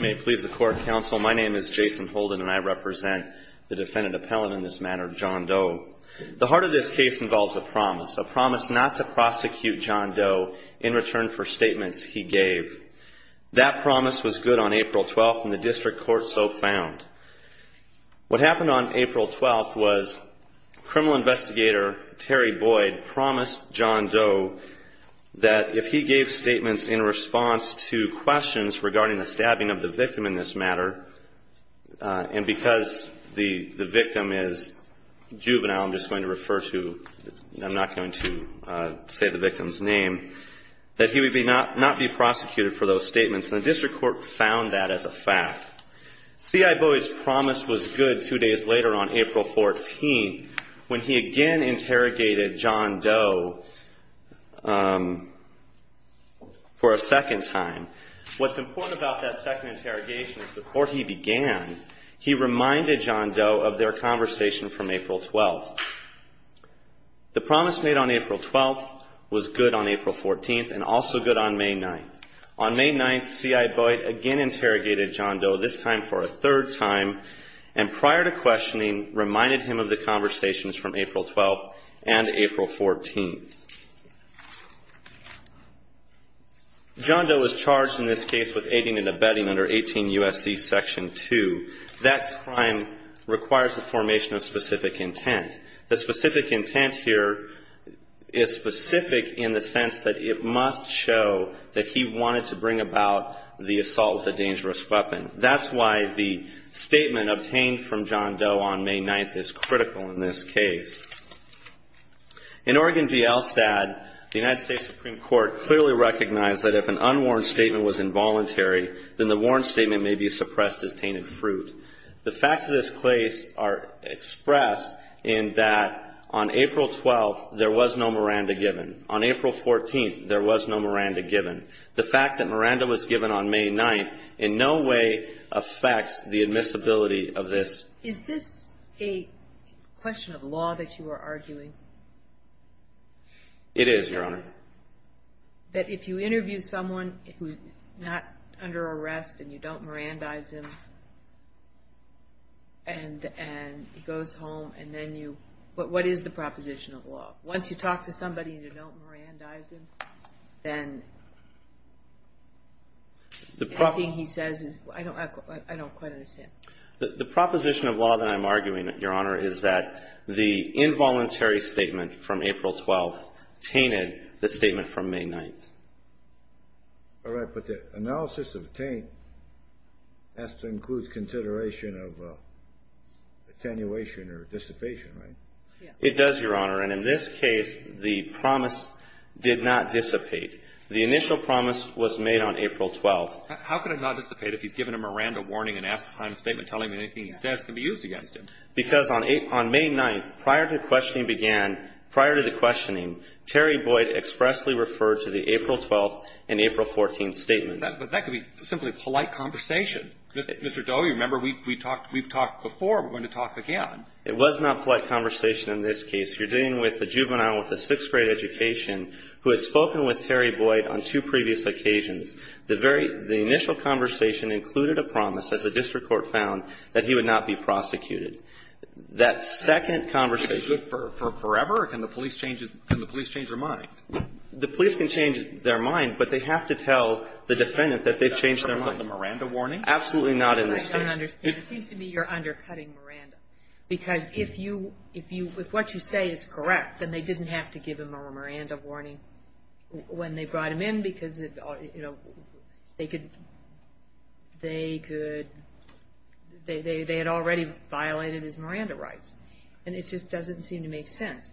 May it please the Court, Counsel. My name is Jason Holden, and I represent the Defendant Appellant in this matter, John Doe. The heart of this case involves a promise, a promise not to prosecute John Doe in return for statements he gave. That promise was good on April 12th, and the District Court so found. What happened on April 12th was criminal investigator Terry Boyd promised John Doe that if he gave statements in response to questions regarding the stabbing of the victim in this matter, and because the victim is juvenile, I'm just going to refer to, I'm not going to say the victim's name, that he would not be prosecuted for those statements, and the District Court found that as a fact. C.I. Boyd's promise was good two days later on April 14th, when he again interrogated John Doe for a second time. What's important about that second interrogation is before he began, he reminded John Doe of their conversation from April 12th. The promise made on April 12th was good on April 14th, and also good on May 9th. On May 9th, C.I. Boyd again interrogated John Doe, this time for a third time, and prior to questioning, reminded him of the conversations from April 12th and April 14th. John Doe was charged in this case with aiding and abetting under 18 U.S.C. Section 2. That crime requires the formation of specific intent. The specific intent here is specific in the sense that it must show that he wanted to bring about the assault with a dangerous weapon. That's why the statement obtained from John Doe on May 9th is critical in this case. In Oregon v. Elstad, the United States Supreme Court clearly recognized that if an unwarranted statement was involuntary, then the warranted statement may be suppressed as tainted fruit. The facts of this case are expressed in that on April 12th, there was no Miranda given. On April 14th, there was no Miranda given. The fact that Miranda was given on May 9th in no way affects the admissibility of this. Is this a question of law that you are arguing? It is, Your Honor. That if you interview someone who's not under arrest, and you don't Mirandize him, and he goes home, and then you, what is the proposition of law? Once you talk to somebody and you don't Mirandize him, then anything he says is, I don't quite understand. The proposition of law that I'm arguing, Your Honor, is that the involuntary statement from April 12th tainted the statement from May 9th. All right, but the analysis of taint has to include consideration of attenuation or dissipation, right? It does, Your Honor. And in this case, the promise did not dissipate. The initial promise was made on April 12th. How could it not dissipate if he's given a Miranda warning and asked to time a statement telling him anything he says can be used against him? Because on May 9th, prior to the questioning began, prior to the questioning, Terry Boyd expressly referred to the April 12th and April 14th statements. But that could be simply polite conversation. Mr. Doe, you remember, we've talked before. We're going to talk again. It was not polite conversation in this case. You're dealing with a juvenile with a sixth-grade education who has spoken with Terry Boyd on two previous occasions. The very, the initial conversation included a promise, as the district court found, that he would not be prosecuted. That second conversation. Is it good for forever, or can the police change his, can the police change their mind? The police can change their mind, but they have to tell the defendant that they've changed their mind. Is that the Miranda warning? Absolutely not in this case. I don't understand. It seems to me you're undercutting Miranda, because if you, if you, if what you say is correct, then they didn't have to give him a Miranda warning when they brought him in, because, you know, they could, they could, they had already violated his Miranda rights. And it just doesn't seem to make sense.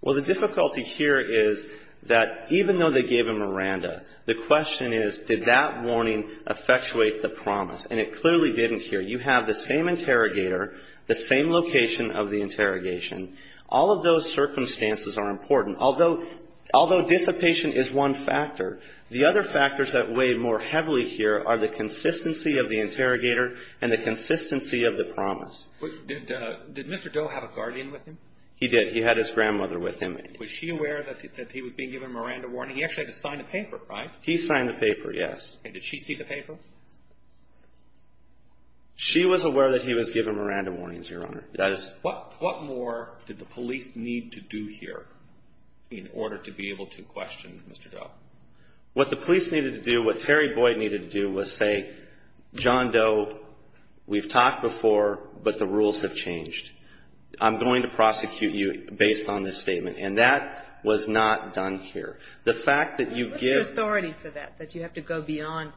Well, the difficulty here is that even though they gave him a Miranda, the question is, did that warning effectuate the promise? And it clearly didn't here. You have the same interrogator, the same location of the interrogation. All of those circumstances are important. Although, although dissipation is one factor, the other factors that weigh more heavily here are the consistency of the interrogator and the consistency of the promise. Did, did Mr. Doe have a guardian with him? He did. He had his grandmother with him. Was she aware that he was being given a Miranda warning? He actually had to sign the paper, right? He signed the paper, yes. And did she see the paper? She was aware that he was given a Miranda warning, Your Honor. That is. What, what more did the police need to do here in order to be able to question Mr. Doe? What the police needed to do, what Terry Boyd needed to do was say, John Doe, we've talked before, but the rules have changed. I'm going to prosecute you based on this statement. And that was not done here. The fact that you give. What's your authority for that, that you have to go beyond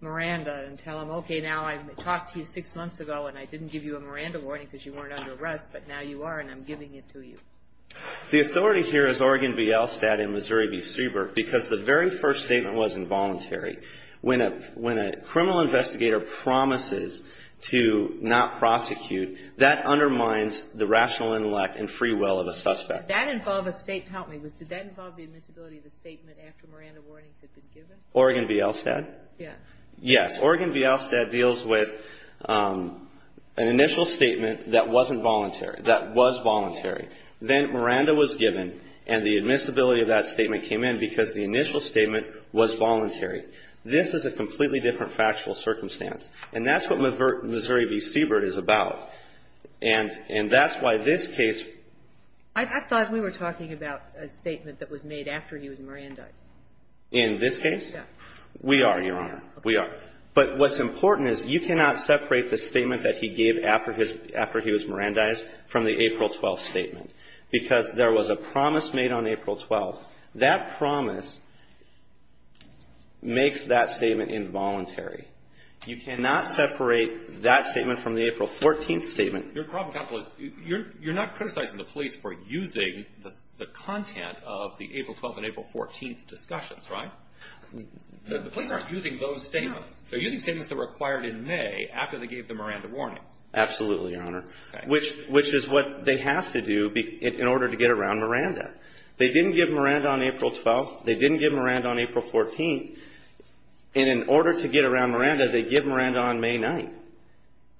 Miranda and tell him, okay, now I talked to you six months ago and I didn't give you a Miranda warning because you weren't under arrest, but now you are and I'm giving it to you. The authority here is Oregon v. Elstad and Missouri v. Strieberg, because the very first statement was involuntary. When a, when a criminal investigator promises to not prosecute, that undermines the rational intellect and free will of a suspect. That involved a statement, help me, was, did that involve the admissibility of the statement after Miranda warnings had been given? Oregon v. Elstad? Yes. Yes. Oregon v. Elstad deals with an initial statement that wasn't voluntary, that was voluntary. Then Miranda was given and the admissibility of that statement came in because the initial statement was voluntary. This is a completely different factual circumstance. And that's what Missouri v. Strieberg is about. And, and that's why this case. I thought we were talking about a statement that was made after he was Mirandized. In this case? Yeah. We are, Your Honor. We are. But what's important is you cannot separate the statement that he gave after his, after he was Mirandized from the April 12th statement. Because there was a promise made on April 12th. That promise makes that statement involuntary. You cannot separate that statement from the April 14th statement. Your problem, counsel, is you're not criticizing the police for using the content of the April 12th and April 14th discussions, right? The police aren't using those statements. They're using statements that were acquired in May after they gave the Miranda warnings. Absolutely, Your Honor. Which is what they have to do in order to get around Miranda. They didn't give Miranda on April 12th. They didn't give Miranda on April 14th. And in order to get around Miranda, they give Miranda on May 9th.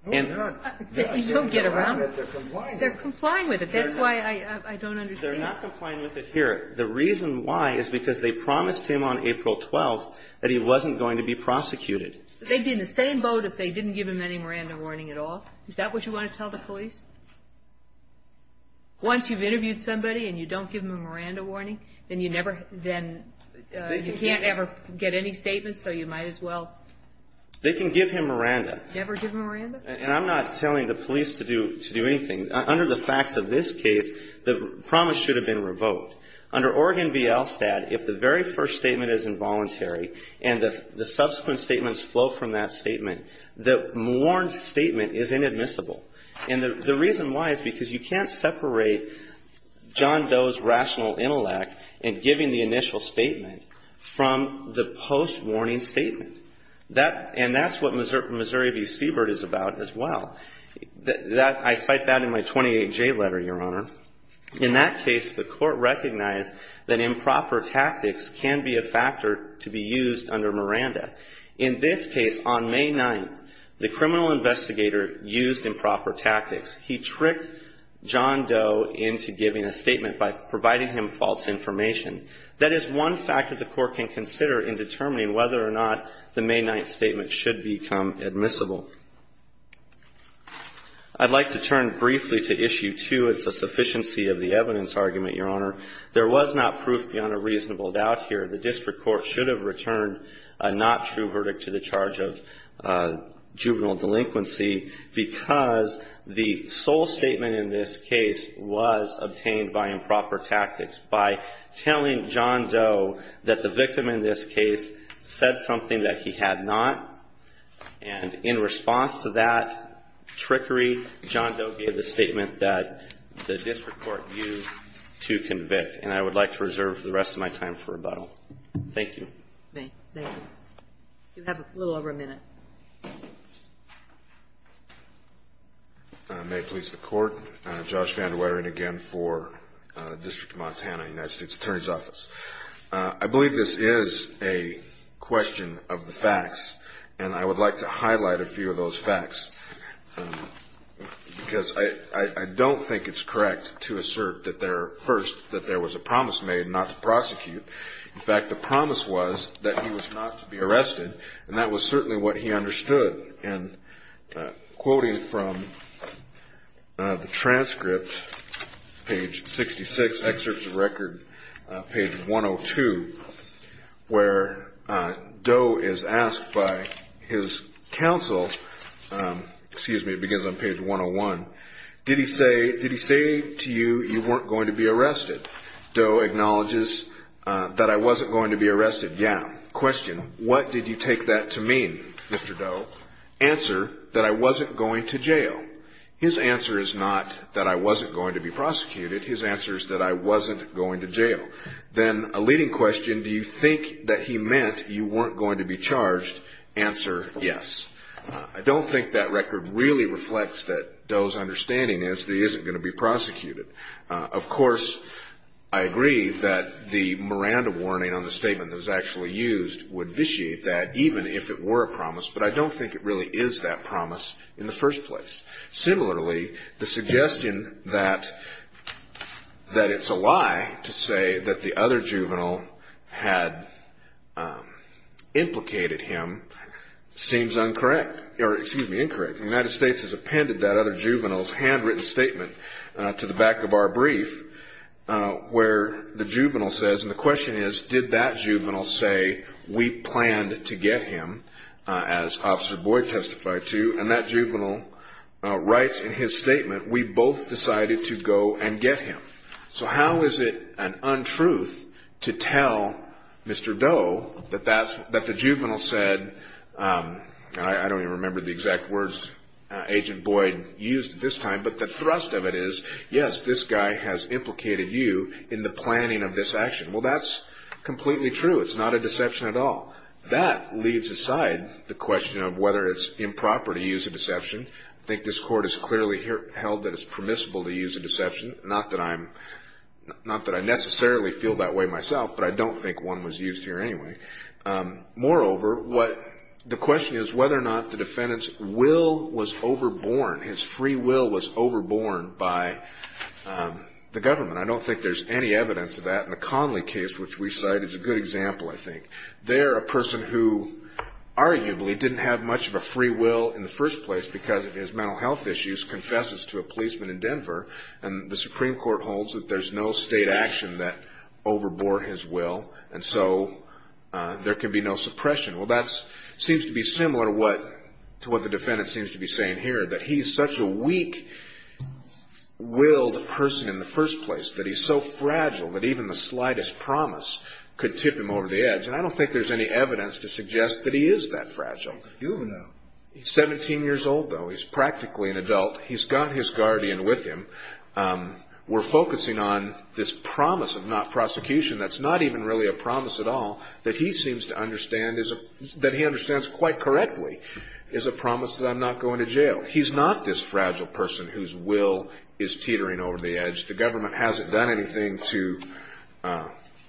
No, they don't. They don't get around it. They're complying with it. They're complying with it. That's why I don't understand. They're not complying with it here. The reason why is because they promised him on April 12th that he wasn't going to be prosecuted. They'd be in the same boat if they didn't give him any Miranda warning at all. Is that what you want to tell the police? Once you've interviewed somebody and you don't give him a Miranda warning, then you never, then you can't ever get any statements, so you might as well. They can give him Miranda. Never give him Miranda? And I'm not telling the police to do anything. Under the facts of this case, the promise should have been revoked. Under Oregon v. LSTAT, if the very first statement is involuntary and the subsequent statements flow from that statement, the warned statement is inadmissible. And the reason why is because you can't separate John Doe's rational intellect in giving the initial statement from the post-warning statement. And that's what Missouri v. Siebert is about as well. I cite that in my 28J letter, Your Honor. In that case, the court recognized that improper tactics can be a factor to be used under Miranda. In this case, on May 9th, the criminal investigator used improper tactics. He tricked John Doe into giving a statement by providing him false information. That is one fact that the court can consider in determining whether or not the May 9th statement should become admissible. I'd like to turn briefly to Issue 2. It's a sufficiency of the evidence argument, Your Honor. There was not proof beyond a reasonable doubt here. The district court should have returned a not true verdict to the charge of juvenile delinquency because the sole statement in this case was obtained by improper tactics. By telling John Doe that the victim in this case said something that he had not, and in response to that trickery, John Doe gave the statement that the district court used to convict, and I would like to reserve the rest of my time for rebuttal. Thank you. Thank you. You have a little over a minute. May it please the Court. Thank you, Your Honor. I'm Josh Van De Wettering again for the District of Montana United States Attorney's Office. I believe this is a question of the facts, and I would like to highlight a few of those facts because I don't think it's correct to assert that there was a promise made not to prosecute. In fact, the promise was that he was not to be arrested, and that was certainly what he Page 66, excerpts of record, page 102, where Doe is asked by his counsel, excuse me, it begins on page 101, did he say to you, you weren't going to be arrested? Doe acknowledges that I wasn't going to be arrested. Yeah. Question, what did you take that to mean, Mr. Doe? Answer, that I wasn't going to jail. His answer is not that I wasn't going to be prosecuted. His answer is that I wasn't going to jail. Then a leading question, do you think that he meant you weren't going to be charged? Answer, yes. I don't think that record really reflects that Doe's understanding is that he isn't going to be prosecuted. Of course, I agree that the Miranda warning on the statement that was actually used would vitiate that, even if it were a promise, but I don't think it really is that promise in the first place. Similarly, the suggestion that it's a lie to say that the other juvenile had implicated him seems incorrect, or excuse me, incorrect. The United States has appended that other juvenile's handwritten statement to the back of our brief, where the juvenile says, and the question is, did that juvenile say we planned to get him, as Officer Boyd testified to, and that juvenile writes in his statement, we both decided to go and get him. How is it an untruth to tell Mr. Doe that the juvenile said, I don't even remember the exact words Agent Boyd used at this time, but the thrust of it is, yes, this guy has implicated you in the planning of this action. That's completely true. It's not a deception at all. That leaves aside the question of whether it's improper to use a deception. I think this Court has clearly held that it's permissible to use a deception. Not that I necessarily feel that way myself, but I don't think one was used here anyway. Moreover, the question is whether or not the defendant's will was overborne, his free will was overborne by the government. I don't think there's any evidence of that, and the Conley case, which we cite, is a good example, I think. They're a person who, arguably, didn't have much of a free will in the first place because of his mental health issues, confesses to a policeman in Denver, and the Supreme Court holds that there's no state action that overbore his will, and so there can be no suppression. That seems to be similar to what the defendant seems to be saying here, that he's such a that he's so fragile that even the slightest promise could tip him over the edge, and I don't think there's any evidence to suggest that he is that fragile. You know. He's 17 years old, though. He's practically an adult. He's got his guardian with him. We're focusing on this promise of not prosecution that's not even really a promise at all, that he seems to understand, that he understands quite correctly, is a promise that I'm not going to jail. He's not this fragile person whose will is teetering over the edge. The government hasn't done anything to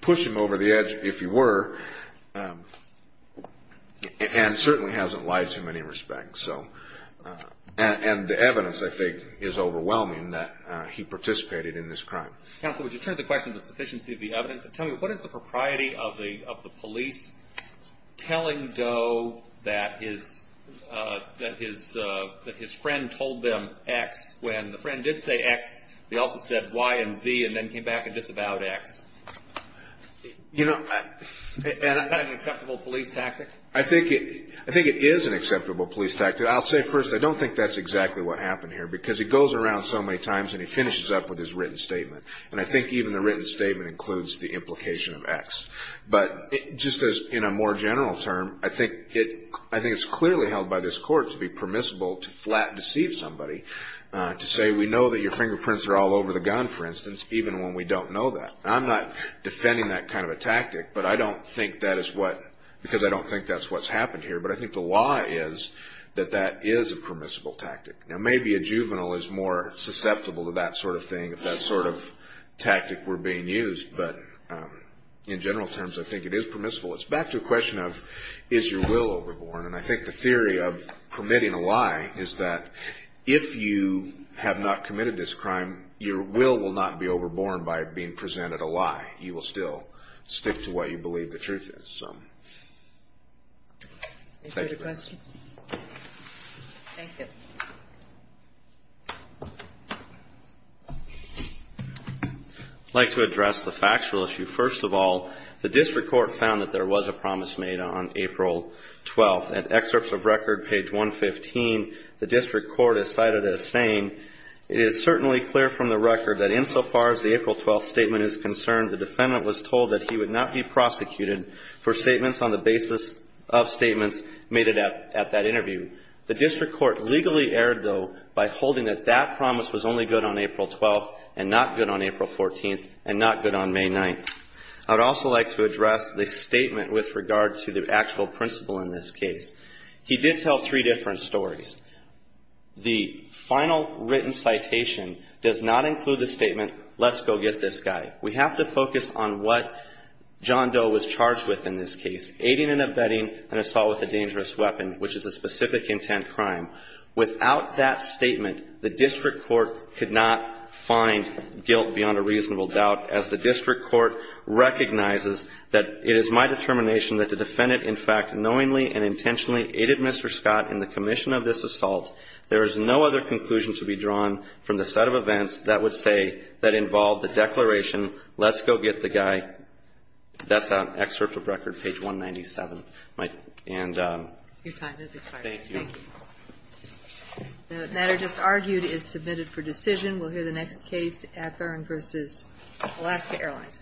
push him over the edge, if you were, and certainly hasn't lied to him in any respect, so. And the evidence, I think, is overwhelming that he participated in this crime. Counsel, would you turn to the question of the sufficiency of the evidence and tell me, what is the propriety of the police telling Doe that his friend told them X when the friend did say X, he also said Y and Z, and then came back and disavowed X? You know. Is that an acceptable police tactic? I think it is an acceptable police tactic. I'll say first, I don't think that's exactly what happened here, because he goes around so many times and he finishes up with his written statement, and I think even the written statement includes the implication of X. But just as in a more general term, I think it's clearly held by this Court to be permissible to flat deceive somebody, to say, we know that your fingerprints are all over the gun, for instance, even when we don't know that. I'm not defending that kind of a tactic, but I don't think that is what, because I don't think that's what's happened here, but I think the law is that that is a permissible tactic. Now, maybe a juvenile is more susceptible to that sort of thing, if that sort of tactic were being used, but in general terms, I think it is permissible. It's back to a question of, is your will overborn, and I think the theory of permitting a lie is that if you have not committed this crime, your will will not be overborn by being presented a lie. You will still stick to what you believe the truth is, so. Thank you. Thank you. I'd like to address the factual issue. First of all, the district court found that there was a promise made on April 12th. In excerpts of record, page 115, the district court is cited as saying, it is certainly clear from the record that insofar as the April 12th statement is concerned, the defendant was told that he would not be prosecuted for statements on the basis of statements made at that interview. The district court legally erred, though, by holding that that promise was only good on April 12th and not good on April 14th and not good on May 9th. I would also like to address the statement with regard to the actual principle in this case. He did tell three different stories. The final written citation does not include the statement, let's go get this guy. We have to focus on what John Doe was charged with in this case, aiding and abetting an assault with a dangerous weapon, which is a specific intent crime. Without that statement, the district court could not find guilt beyond a reasonable doubt, as the district court recognizes that it is my determination that the defendant in fact knowingly and intentionally aided Mr. Scott in the commission of this assault. There is no other conclusion to be drawn from the set of events that would say that involved the declaration, let's go get the guy. That's an excerpt of record, page 197. And thank you. The matter just argued is submitted for decision. We'll hear the next case at Thorne v. Alaska Airlines.